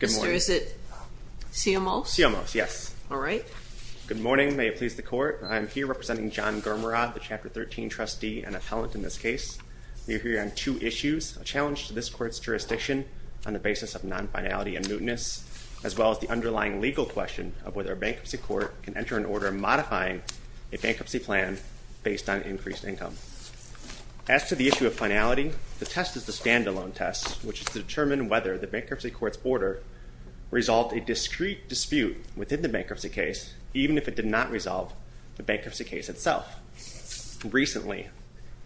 Mr. is it CMO? CMO, yes. All right. Good morning, may it please the court. I am here representing John Germeraad, the Chapter 13 trustee and appellant in this case. We are here on two issues, a challenge to this court's jurisdiction on the basis of non-finality and mootness, as well as the underlying legal question of whether a bankruptcy court can enter an order modifying a bankruptcy plan based on increased income. As to the issue of finality, the test is the standalone test, which is to determine whether the bankruptcy court's order resolved a discrete dispute within the bankruptcy case, even if it did not resolve the bankruptcy case itself. Recently,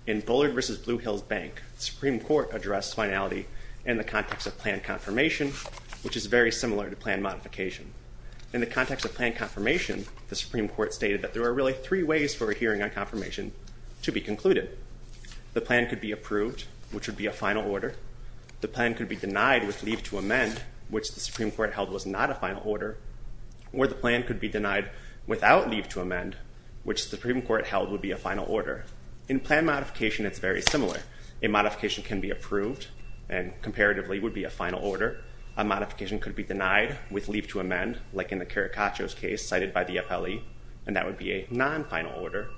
in Bullard v. Blue Hills Bank, the Supreme Court addressed finality in the context of plan confirmation, which is very similar to plan modification. In the context of plan confirmation, the Supreme Court stated that there are really three ways for a hearing on confirmation to be concluded. The plan could be approved, which would be a final order. The plan could be denied with leave to amend, which the Supreme Court held was not a final order. Or the plan could be denied without leave to amend, which the Supreme Court held would be a final order. In plan modification, it's very similar. A modification can be approved, and comparatively would be a final order. A modification could be denied with leave to amend, like in the Carricaccio's case cited by the appellee, and that would be a non-final order.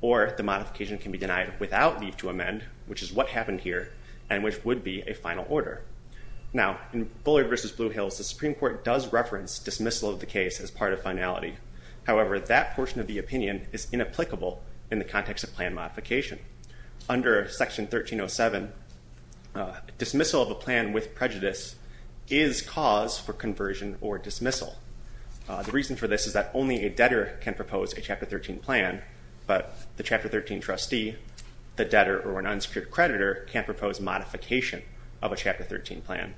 Or the modification can be denied without leave to amend, which is what happened here, and which would be a final order. Now, in Bullard v. Blue Hills, the Supreme Court does reference dismissal of the case as part of finality. However, that portion of the opinion is inapplicable in the context of plan modification. Under Section 1307, dismissal of a plan with prejudice is cause for conversion or dismissal. The reason for this is that only a debtor can propose a Chapter 13 plan, but the Chapter 13 trustee, the debtor, or an unsecured creditor can propose modification of a Chapter 13 plan.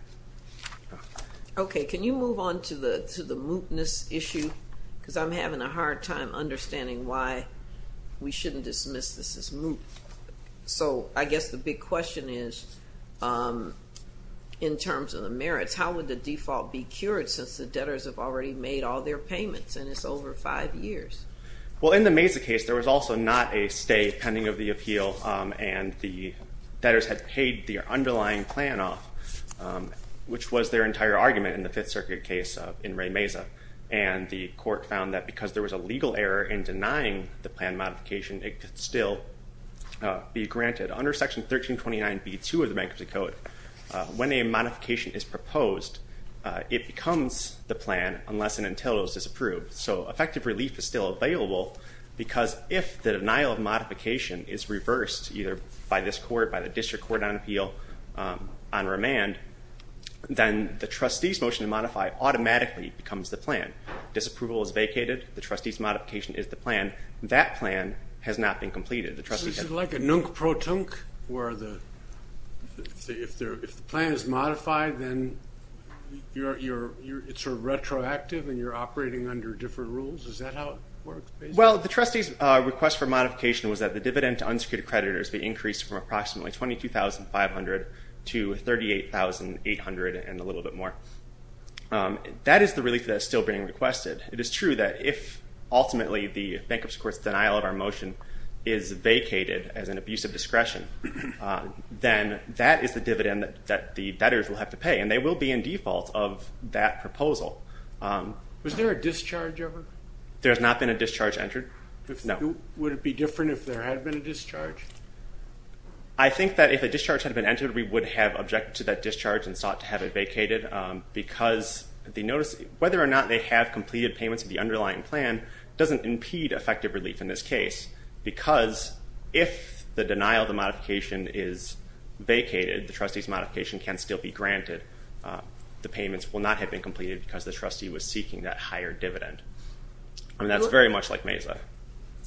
Okay, can you move on to the mootness issue? Because I'm having a hard time understanding why we shouldn't dismiss this as moot. So, I guess the big question is, in terms of the merits, how would the default be cured since the debtors have already made all their payments and it's over five years? Well, in the Mesa case, there was also not a stay pending of the appeal, and the debtors had paid their underlying plan off, which was their entire argument in the Fifth Circuit case in Ray Mesa. And the court found that because there was a legal error in denying the plan modification, it could still be granted. Under Section 1329b2 of the Bankruptcy Code, when a modification is proposed, it becomes the plan unless and until it was disapproved. So, effective relief is still available because if the denial of modification is reversed, either by this court, by the district court on appeal, on remand, then the trustee's motion to modify automatically becomes the plan. Disapproval is vacated, the trustee's modification is the plan. That plan has not been completed. So, is it like a nunk-pro-tunk where if the plan is modified, then it's sort of retroactive and you're operating under different rules? Is that how it works? Well, the trustee's request for modification was that the dividend to unsecured creditors be increased from approximately $22,500 to $38,800 and a little bit more. That is the relief that is still being requested. It is true that if ultimately the Bankruptcy Court's denial of our motion is vacated as an abuse of discretion, then that is the dividend that the debtors will have to pay and they will be in default of that proposal. Was there a discharge ever? There has not been a discharge entered. No. Would it be different if there had been a discharge? I think that if a discharge had been entered, we would have objected to that discharge and sought to have it vacated because whether or not they have completed payments of the underlying plan doesn't impede effective relief in this case because if the denial of the modification is vacated, the trustee's modification can still be granted. The payments will not have been completed because the trustee was seeking that higher dividend. That's very much like MESA.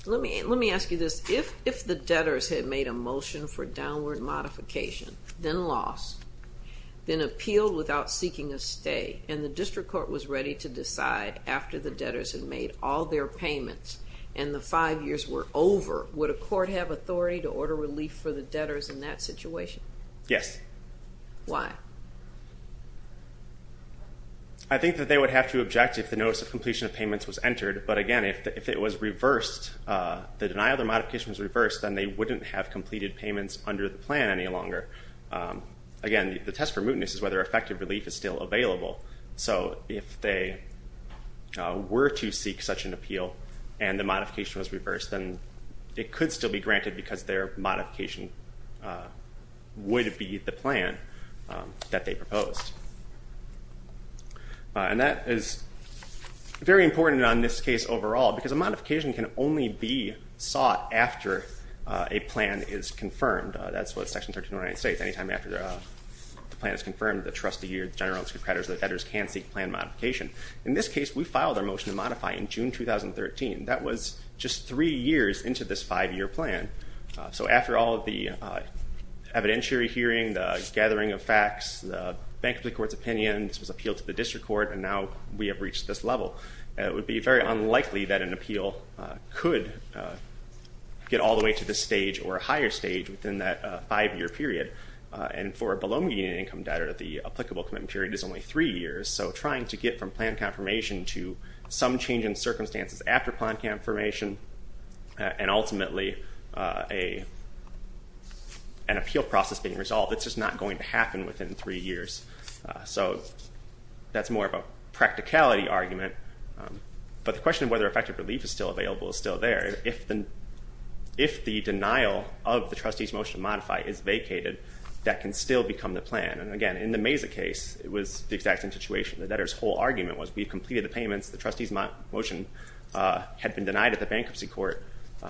Let me ask you this. If the debtors had made a motion for downward modification, then loss, then appealed without seeking a stay, and the District Court was ready to decide after the debtors had made all their payments and the five years were over, would a court have authority to order relief for the debtors in that situation? Yes. Why? I think that they would have to object if the notice of completion of payments was entered, but again, if it was reversed, the denial of the modification was reversed, then they wouldn't have completed payments under the plan any longer. Again, the test for mootness is whether effective relief is still available. So if they were to seek such an appeal and the modification was reversed, then it could still be granted because their modification would be the plan that they proposed. And that is very important on this case overall because a modification can only be sought after a plan is confirmed. That's what Section 1319 states, any time after the plan is confirmed, the trustee or the general creditors or the debtors can seek plan modification. In this case, we filed our motion to modify in June 2013. That was just three years into this five-year plan. So after all of the evidentiary hearing, the gathering of facts, the bankruptcy court's opinion, this was appealed to the District Court, and now we have reached this level. It would be very unlikely that an appeal could get all the way to this stage or a higher stage within that five-year period. And for a below median income debtor, the applicable commitment period is only three years. So trying to get from plan confirmation to some change in circumstances after plan confirmation and ultimately an appeal process being resolved, it's just not going to happen within three years. So that's more of a practicality argument. But the question of whether effective relief is still available is still there. If the denial of the trustee's motion to modify is vacated, that can still become the plan. And again, in the Mesa case, it was the exact same situation. The debtor's whole argument was we completed the payments, the trustee's motion had been denied at the bankruptcy court,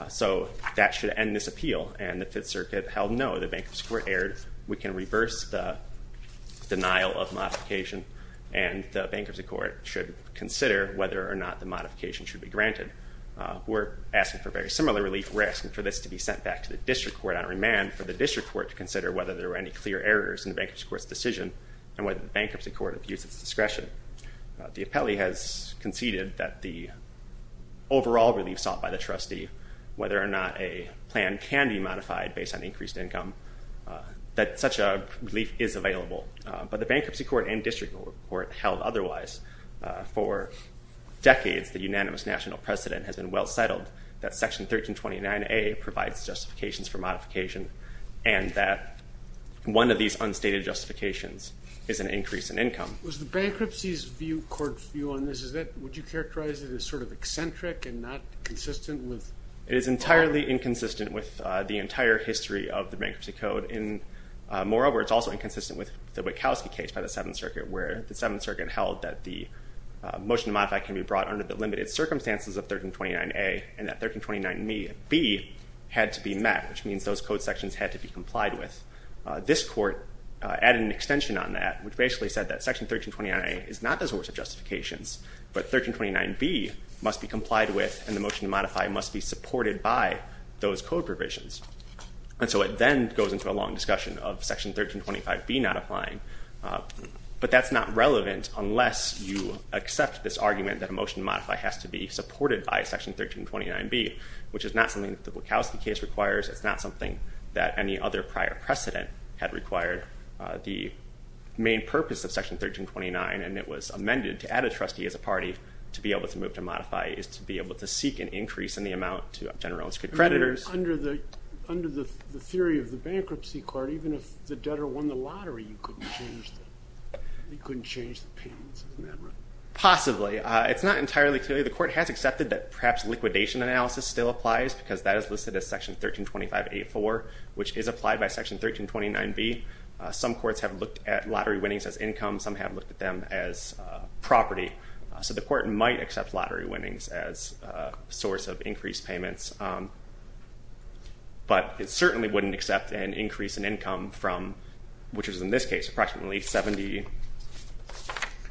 so that should end this appeal. And the Fifth Amendment denial of modification and the bankruptcy court should consider whether or not the modification should be granted. We're asking for very similar relief. We're asking for this to be sent back to the District Court on remand for the District Court to consider whether there were any clear errors in the bankruptcy court's decision and whether the bankruptcy court abused its discretion. The appellee has conceded that the overall relief sought by the trustee, whether or not a plan can be modified based on increased income, that such a relief is available. But the bankruptcy court and District Court held otherwise. For decades, the unanimous national precedent has been well settled that Section 1329A provides justifications for modification and that one of these unstated justifications is an increase in income. Was the bankruptcy court's view on this, would you characterize it as sort of eccentric and not consistent with? It is entirely inconsistent with the entire history of the bankruptcy code. Moreover, it's also inconsistent with the Wachowski case by the Seventh Circuit where the Seventh Circuit held that the motion to modify can be brought under the limited circumstances of 1329A and that 1329B had to be met, which means those code sections had to be complied with. This court added an extension on that, which basically said that Section 1329A is not the source of justifications, but 1329B must be complied with and the motion to modify must be supported by those code provisions. And so it then goes into a long discussion of Section 1325B not applying. But that's not relevant unless you accept this argument that a motion to modify has to be supported by Section 1329B, which is not something that the Wachowski case requires. It's not something that any other prior precedent had required. The main purpose of Section 1329, and it was amended to add a trustee as a party to be able to move to modify, is to be able to seek an increase in the amount to general and circuit creditors. Under the theory of the bankruptcy court, even if the debtor won the lottery, you couldn't change the payments, isn't that right? Possibly. It's not entirely clear. The court has accepted that perhaps liquidation analysis still applies because that is listed as Section 1325A.4, which is applied by Section 1329B. Some courts have looked at lottery winnings as income, some have looked at them as property. So the court might accept lottery winnings as a source of increased payments, but it certainly wouldn't accept an increase in income from, which is in this case approximately 70,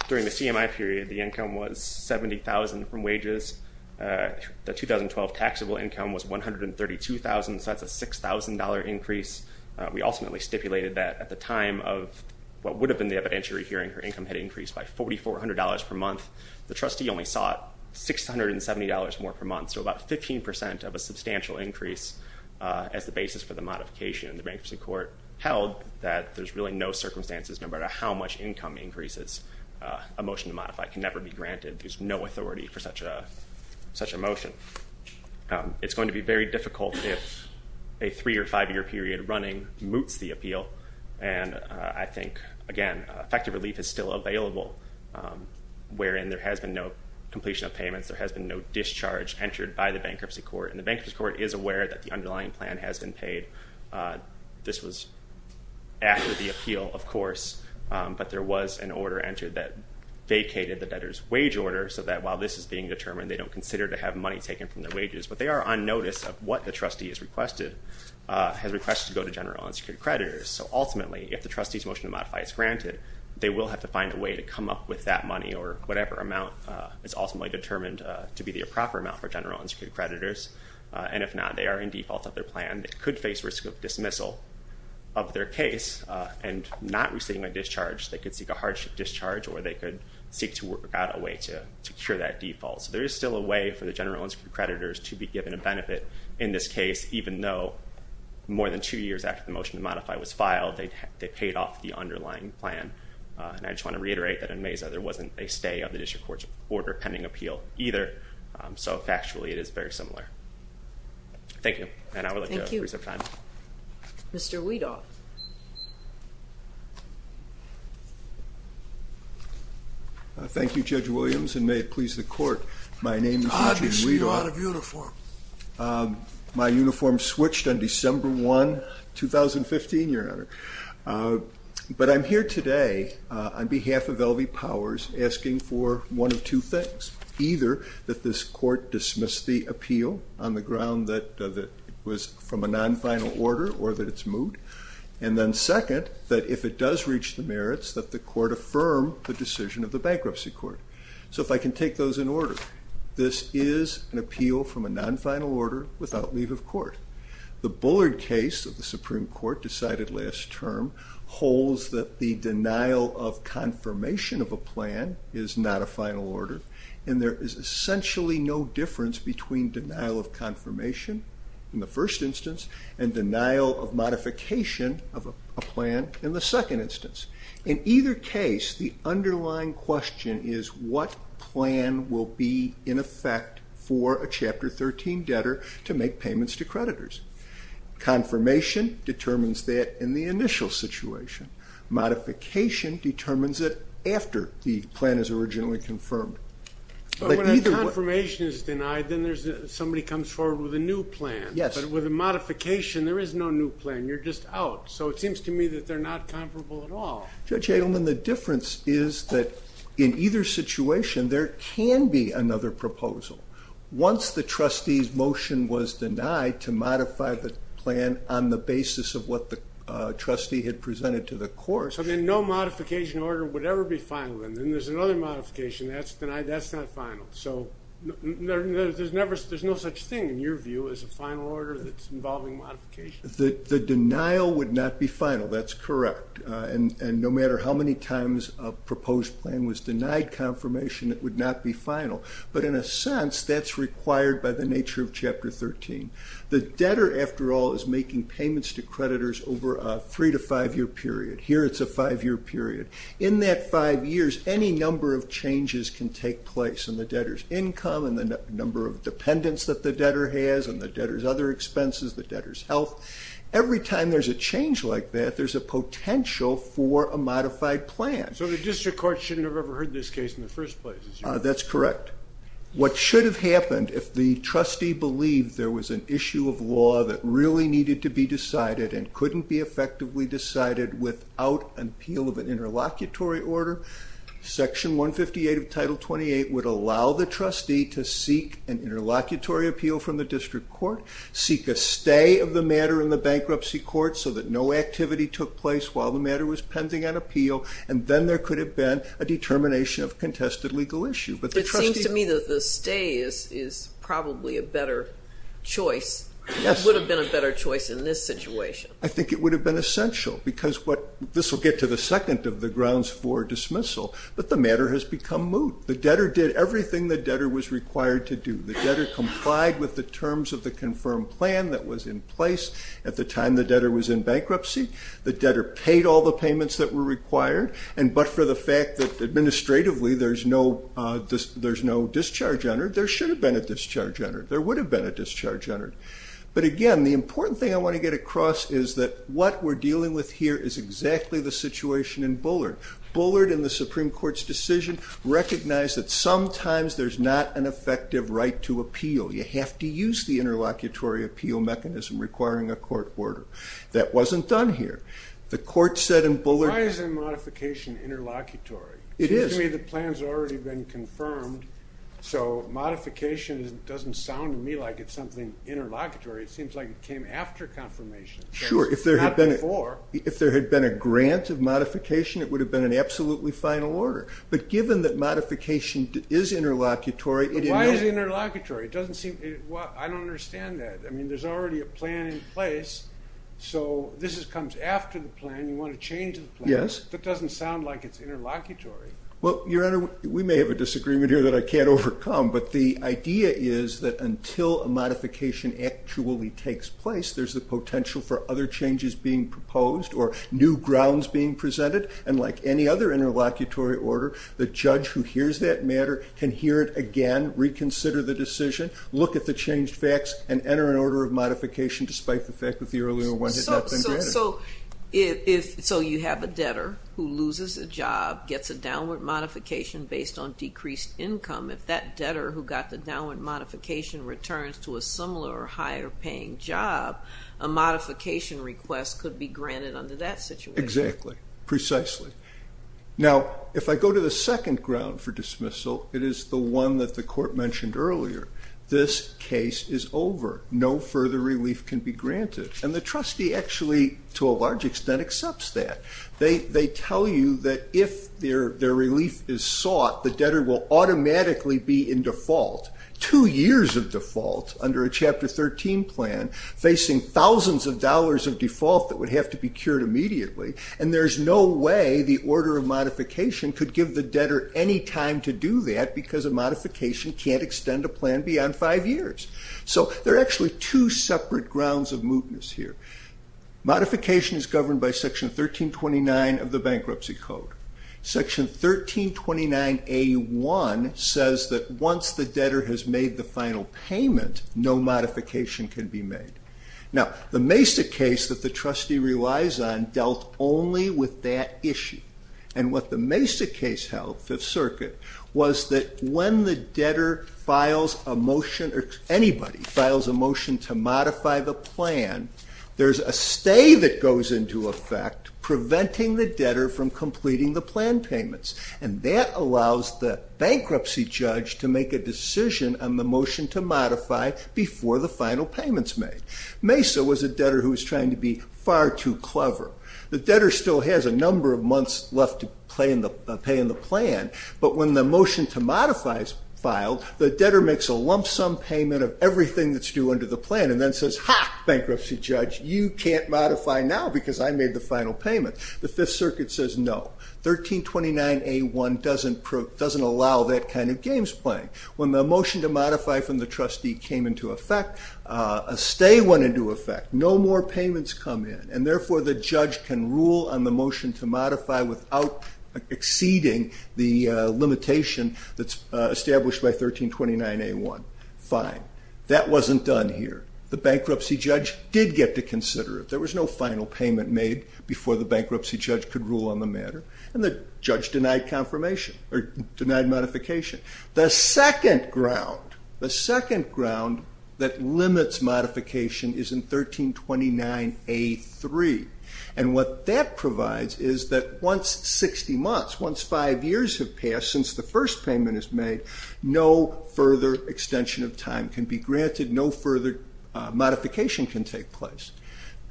during the CMI period, the income was 70,000 from wages. The 2012 taxable income was 132,000, so that's a $6,000 increase. We ultimately stipulated that at the time of what would have been the evidentiary hearing, her income had increased by $4,400 per month. The trustee only sought $670 more per month, so about 15% of a substantial increase as the basis for the modification. The bankruptcy court held that there's really no circumstances, no matter how much income increases, a motion to modify can never be granted. There's no going to be very difficult if a three- or five-year period running moots the appeal, and I think, again, effective relief is still available, wherein there has been no completion of payments, there has been no discharge entered by the bankruptcy court, and the bankruptcy court is aware that the underlying plan has been paid. This was after the appeal, of course, but there was an order entered that vacated the debtor's wage order, so that while this is being determined, they don't consider to have money taken from their wages. But they are on notice of what the trustee has requested, has requested to go to General Unsecured Creditors, so ultimately, if the trustee's motion to modify is granted, they will have to find a way to come up with that money or whatever amount is ultimately determined to be the proper amount for General Unsecured Creditors, and if not, they are in default of their plan. They could face risk of dismissal of their case and not receiving a discharge. They could seek a hardship discharge, or they could seek to work out a way to secure that default. So there is still a way for the General Unsecured Creditors to be given a benefit in this case, even though more than two years after the motion to modify was filed, they paid off the underlying plan. And I just want to reiterate that in Mesa, there wasn't a stay of the district court's order pending appeal either, so factually, it is very similar. Thank you, and I would like to appreciate your time. Thank you. Mr. Weedoff. Thank you, Judge Williams, and may it please the court, my name is Richard Weedoff. My uniform switched on December 1, 2015, Your Honor. But I'm here today on behalf of L.V. Powers asking for one of two things. Either that this court dismiss the appeal on the first instance, and then second, that if it does reach the merits, that the court affirm the decision of the bankruptcy court. So if I can take those in order. This is an appeal from a non-final order without leave of court. The Bullard case of the Supreme Court decided last term holds that the denial of confirmation of a plan is not a final order, and there is essentially no difference between denial of confirmation in the first instance and denial of modification of a plan in the second instance. In either case, the underlying question is what plan will be in effect for a Chapter 13 debtor to make payments to creditors. Confirmation determines that in the initial situation. Modification determines it after the plan is originally confirmed. But when a confirmation is denied, then somebody comes forward with a new plan, but with a modification, there is no new plan. You're just out. So it seems to me that they're not comparable at all. Judge Adelman, the difference is that in either situation, there can be another proposal. Once the trustee's motion was denied to modify the plan on the basis of what the trustee had presented to the court. So then no modification order would ever be final, and then there's another modification that's denied, that's not final. So there's no such thing, in your view, as a final order that's involving modification? The denial would not be final. That's correct. And no matter how many times a proposed plan was denied confirmation, it would not be final. But in a sense, that's required by the nature of Chapter 13. The debtor, after all, is making payments to creditors over a three to five year period. Here it's a five year period. In that five years, any number of changes can take place in the debtor's income and the number of dependents that the debtor has and the debtor's other expenses, the debtor's health. Every time there's a change like that, there's a potential for a modified plan. So the district court shouldn't have ever heard this case in the first place? That's correct. What should have happened if the trustee believed there was an issue of law that really needed to be decided and couldn't be effectively decided without an appeal of an interlocutory order, Section 158 of Title 28 would allow the trustee to come to court, seek a stay of the matter in the bankruptcy court so that no activity took place while the matter was pending an appeal, and then there could have been a determination of contested legal issue. But it seems to me that the stay is probably a better choice. It would have been a better choice in this situation. I think it would have been essential because this will get to the second of the grounds for dismissal, but the matter has become moot. The debtor did everything the debtor was required to do. The debtor complied with the terms of the confirmed plan that was in place at the time the debtor was in bankruptcy. The debtor paid all the payments that were required, and but for the fact that administratively there's no discharge on her, there should have been a discharge on her. There would have been a discharge on her. But again, the important thing I want to get across is that what we're dealing with here is exactly the situation in Bullard. Bullard in the Supreme Court's decision recognized that sometimes there's not an effective right to appeal. You have to use the interlocutory appeal mechanism requiring a court order. That wasn't done here. The court said in Bullard- Why isn't modification interlocutory? It seems to me the plan has already been confirmed, so modification doesn't sound to me like it's something interlocutory. It seems like it came after confirmation, not before. If there had been a grant of modification, it would have been an absolutely final order. But given that modification is interlocutory- But why is it interlocutory? It doesn't seem- I don't understand that. I mean, there's already a plan in place, so this comes after the plan. You want to change the plan. Yes. That doesn't sound like it's interlocutory. Well, Your Honor, we may have a disagreement here that I can't overcome, but the idea is that until a modification actually takes place, there's the potential for other changes being The judge who hears that matter can hear it again, reconsider the decision, look at the changed facts, and enter an order of modification despite the fact that the earlier one had not been granted. So you have a debtor who loses a job, gets a downward modification based on decreased income. If that debtor who got the downward modification returns to a similar or higher paying job, a modification request could be granted under that situation. Exactly. Precisely. Now, if I go to the second ground for dismissal, it is the one that the court mentioned earlier. This case is over. No further relief can be granted. And the trustee actually, to a large extent, accepts that. They tell you that if their relief is sought, the debtor will automatically be in default. Two years of default under a Chapter 13 plan, facing thousands of dollars of default that would have to be cured immediately. And there's no way the order of modification could give the debtor any time to do that because a modification can't extend a plan beyond five years. So there are actually two separate grounds of mootness here. Modification is governed by Section 1329 of the Bankruptcy Code. Section 1329A.1 says that once the debtor has made the final payment, no modification can be made. Now, the Mace the case that the trustee relies on dealt only with that issue. And what the Mace the case held, Fifth Circuit, was that when the debtor files a motion, or anybody files a motion to modify the plan, there's a stay that goes into effect preventing the debtor from completing the plan payments. And that allows the bankruptcy judge to make a decision on the motion to modify before the final payment is made. Mace was a debtor who was trying to be far too clever. The debtor still has a number of months left to pay in the plan, but when the motion to modify is filed, the debtor makes a lump sum payment of everything that's due under the plan and then says, ha, bankruptcy judge, you can't modify now because I made the final payment. The Fifth Circuit says no. 1329A1 doesn't allow that kind of games playing. When the motion to modify from the trustee came into effect, a stay went into effect. No more payments come in, and therefore the judge can rule on the motion to modify without exceeding the limitation that's established by 1329A1. Fine. That wasn't done here. The bankruptcy judge did get to consider it. There was no final payment made before the bankruptcy judge could rule on the matter, and the judge denied modification. The second ground that limits modification is in 1329A3, and what that provides is that once 60 months, once five years have passed since the first payment is made, no further extension of time can be granted, no further modification can take place.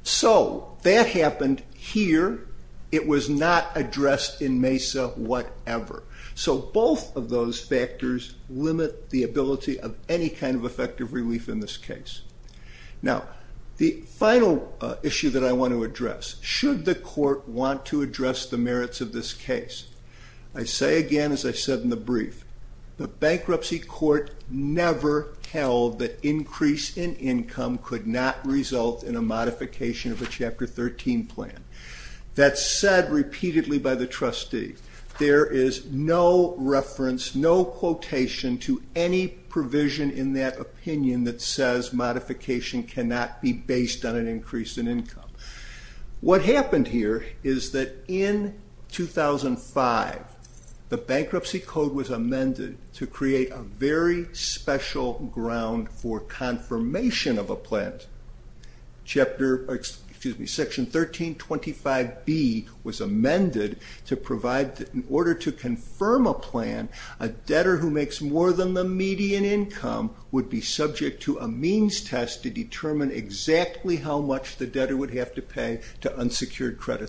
So that happened here. It was not addressed in MESA whatever. So both of those factors limit the ability of any kind of effective relief in this case. Now, the final issue that I want to address, should the court want to address the merits of this case? I say again, as I said in the past, the court never held that increase in income could not result in a modification of a Chapter 13 plan. That's said repeatedly by the trustee. There is no reference, no quotation to any provision in that opinion that says modification cannot be based on an increase in income. What happened here is that in 2005, the bankruptcy code was amended to create a very special ground for confirmation of a plan. Section 1325B was amended to provide, in order to confirm a plan, a debtor who makes more than the median income would be subject to a means test to determine exactly how much the debtor would have to pay to unsecured by the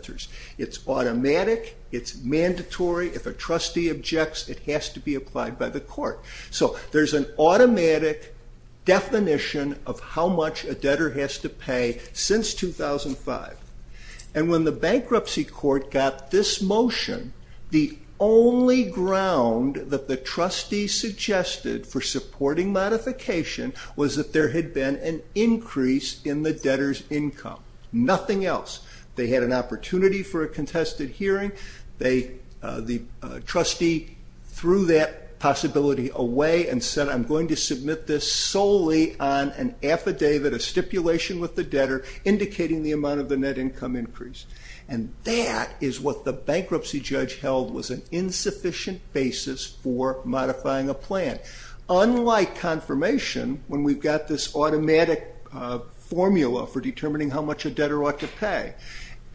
court. So there's an automatic definition of how much a debtor has to pay since 2005. And when the bankruptcy court got this motion, the only ground that the trustee suggested for supporting modification was that there had been an increase in the debtor's income. Nothing else. They had an opportunity for a contested hearing. The trustee threw that possibility away and said, I'm going to submit this solely on an affidavit, a stipulation with the debtor indicating the amount of the net income increase. And that is what the bankruptcy judge held was an insufficient basis for modifying a plan. Unlike confirmation, when we've got this automatic formula for determining how much a debtor ought to pay,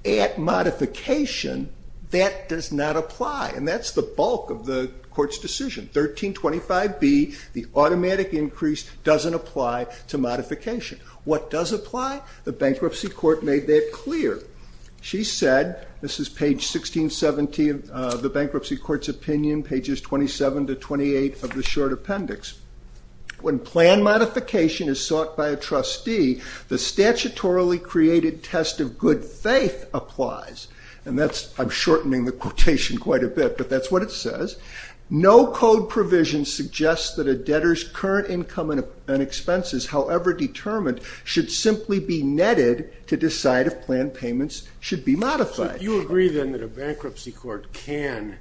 at modification, that does not apply. And that's the bulk of the court's decision. 1325B, the automatic increase doesn't apply to modification. What does apply? The bankruptcy court made that clear. She said, this is page 1617 of the bankruptcy court's opinion, pages 27 to 28 of the short appendix. When plan modification is sought by a trustee, the statutorily created test of good faith applies. And that's, I'm shortening the quotation quite a bit, but that's what it says. No code provision suggests that a debtor's current income and expenses, however determined, should simply be netted to decide if plan payments should be modified. So you agree then that a bankruptcy court can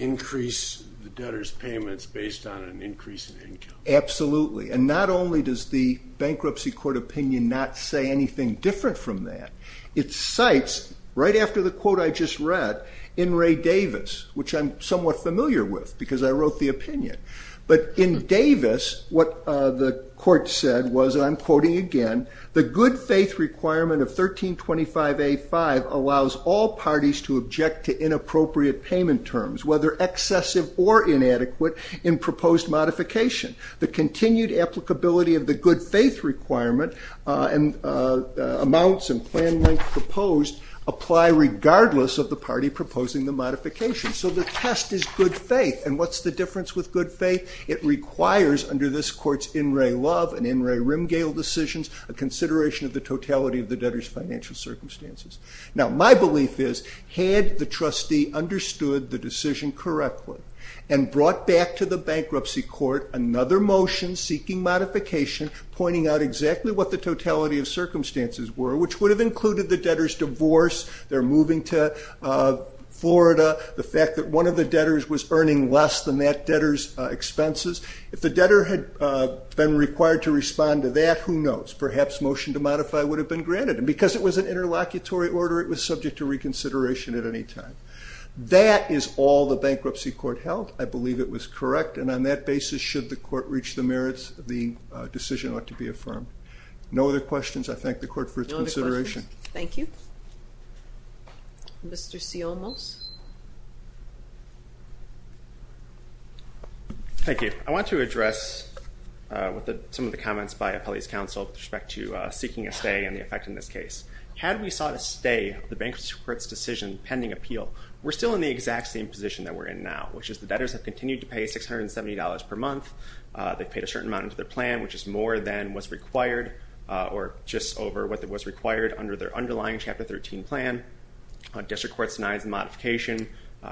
increase the debtor's payments based on an increase in income? Absolutely. And not only does the bankruptcy court opinion not say anything different from that, it cites, right after the quote I just read, in Ray Davis, which I'm somewhat familiar with because I wrote the opinion. But in Davis, what the 1325 allows all parties to object to inappropriate payment terms, whether excessive or inadequate, in proposed modification. The continued applicability of the good faith requirement and amounts and plan length proposed apply regardless of the party proposing the modification. So the test is good faith. And what's the difference with good faith? It requires, under this court's in Ray Love and in Ray Rimgale decisions, a consideration of the totality of the debtor's financial circumstances. Now my belief is, had the trustee understood the decision correctly and brought back to the bankruptcy court another motion seeking modification pointing out exactly what the totality of circumstances were, which would have included the debtor's divorce, their moving to Florida, the fact that one of the debtors was earning less than that debtor's expenses. If the debtor had been required to respond to that, who knows? Perhaps a motion to modify would have been granted. And because it was an interlocutory order, it was subject to reconsideration at any time. That is all the bankruptcy court held. I believe it was correct. And on that basis, should the court reach the merits, the decision ought to be affirmed. No other questions. I thank the court for its consideration. Thank you. Mr. Ciolmos. Thank you. I want to address some of the comments by Appellee's Counsel with respect to seeking a stay and the effect in this case. Had we sought a stay, the bankruptcy court's decision pending appeal, we're still in the exact same position that we're in now, which is the debtors have continued to pay $670 per month. They've paid a certain amount into their plan, which is more than was required, or just over what was required under their underlying Chapter 13 plan. District Court denies the modification.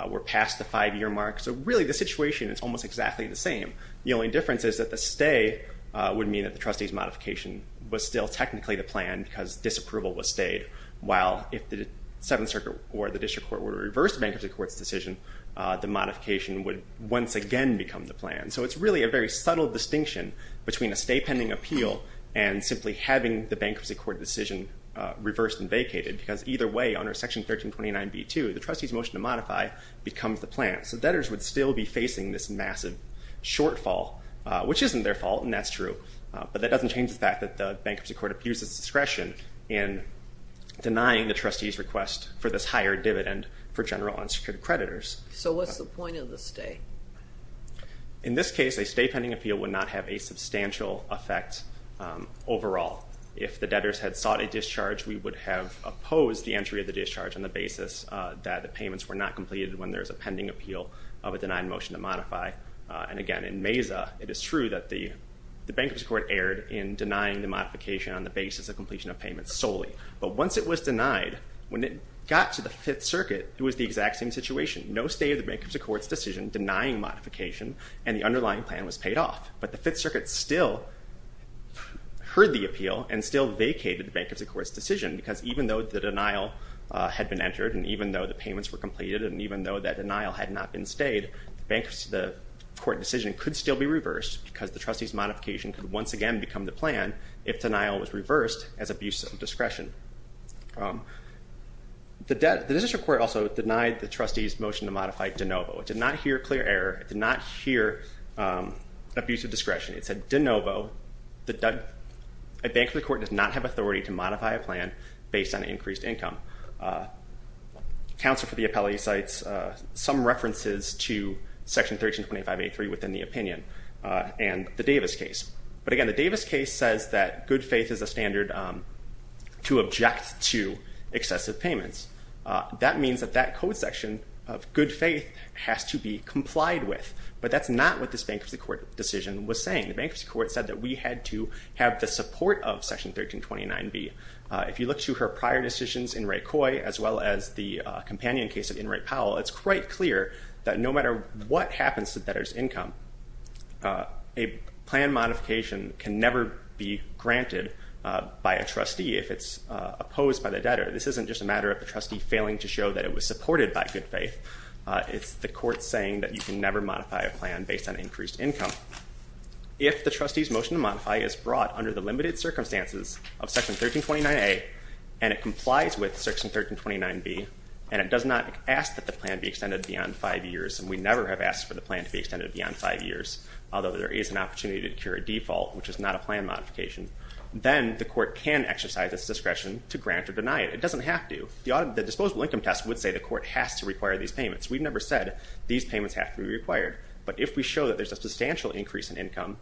We're past the five-year mark. So really, the situation is almost exactly the same. The only difference is that the stay would mean that the trustee's modification was still technically the plan because disapproval was stayed. While if the Seventh Circuit or the District Court were to reverse the bankruptcy court's decision, the modification would once again become the plan. So it's really a very subtle distinction between a stay pending appeal and simply having the bankruptcy court decision reversed and vacated, because either way, under Section 1329b2, the trustee's motion to modify becomes the plan. So debtors would still be facing this massive shortfall, which isn't their fault, and that's true. But that doesn't change the fact that the bankruptcy court abuses discretion in denying the trustee's request for this higher dividend for general and security creditors. So what's the point of the stay? In this case, a stay pending appeal would not have a substantial effect overall. If the debtors had sought a discharge, we would have opposed the entry of the discharge on the basis that the payments were not completed when there is a pending appeal of a denied motion to modify. And again, in Mesa, it is true that the bankruptcy court erred in denying the modification on the basis of completion of payments solely. But once it was denied, when it got to the Fifth Circuit, it was the exact same situation. No stay of the bankruptcy court's decision denying modification, and the underlying plan was paid off. But the Fifth Circuit still heard the appeal and still vacated the bankruptcy court's decision, because even though the denial had been entered, and even though the payments were completed, and even though that denial had not been stayed, the court decision could still be reversed, because the trustee's modification could once again become the plan if denial was reversed as abuse of discretion. The district court also denied the trustee's motion to modify de novo. It did not hear clear error. It did not hear abuse of discretion. It said de novo. The bankruptcy court does not have authority to modify a plan based on increased income. Counsel for the appellate cites some references to Section 1325.83 within the opinion, and the Davis case. But again, the Davis case says that good faith is a standard to object to excessive payments. That means that that is not what this bankruptcy court decision was saying. The bankruptcy court said that we had to have the support of Section 1329B. If you look to her prior decisions, In re Coy, as well as the companion case of In re Powell, it's quite clear that no matter what happens to debtor's income, a plan modification can never be granted by a trustee if it's opposed by the debtor. This isn't just a matter of the trustee failing to show that it was based on increased income. If the trustee's motion to modify is brought under the limited circumstances of Section 1329A, and it complies with Section 1329B, and it does not ask that the plan be extended beyond five years, and we never have asked for the plan to be extended beyond five years, although there is an opportunity to incur a default, which is not a plan modification, then the court can exercise its discretion to grant or deny it. It doesn't have to. The disposable income test would say the court has to require these payments. We've never said these payments have to be required, but if we show that there's a substantial increase in income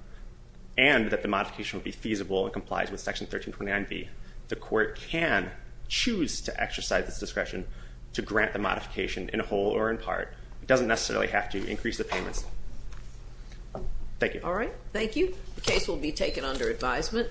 and that the modification would be feasible and complies with Section 1329B, the court can choose to exercise its discretion to grant the modification in whole or in part. It doesn't necessarily have to increase the payments. Thank you. All right. Thank you. The case will be taken under advisement.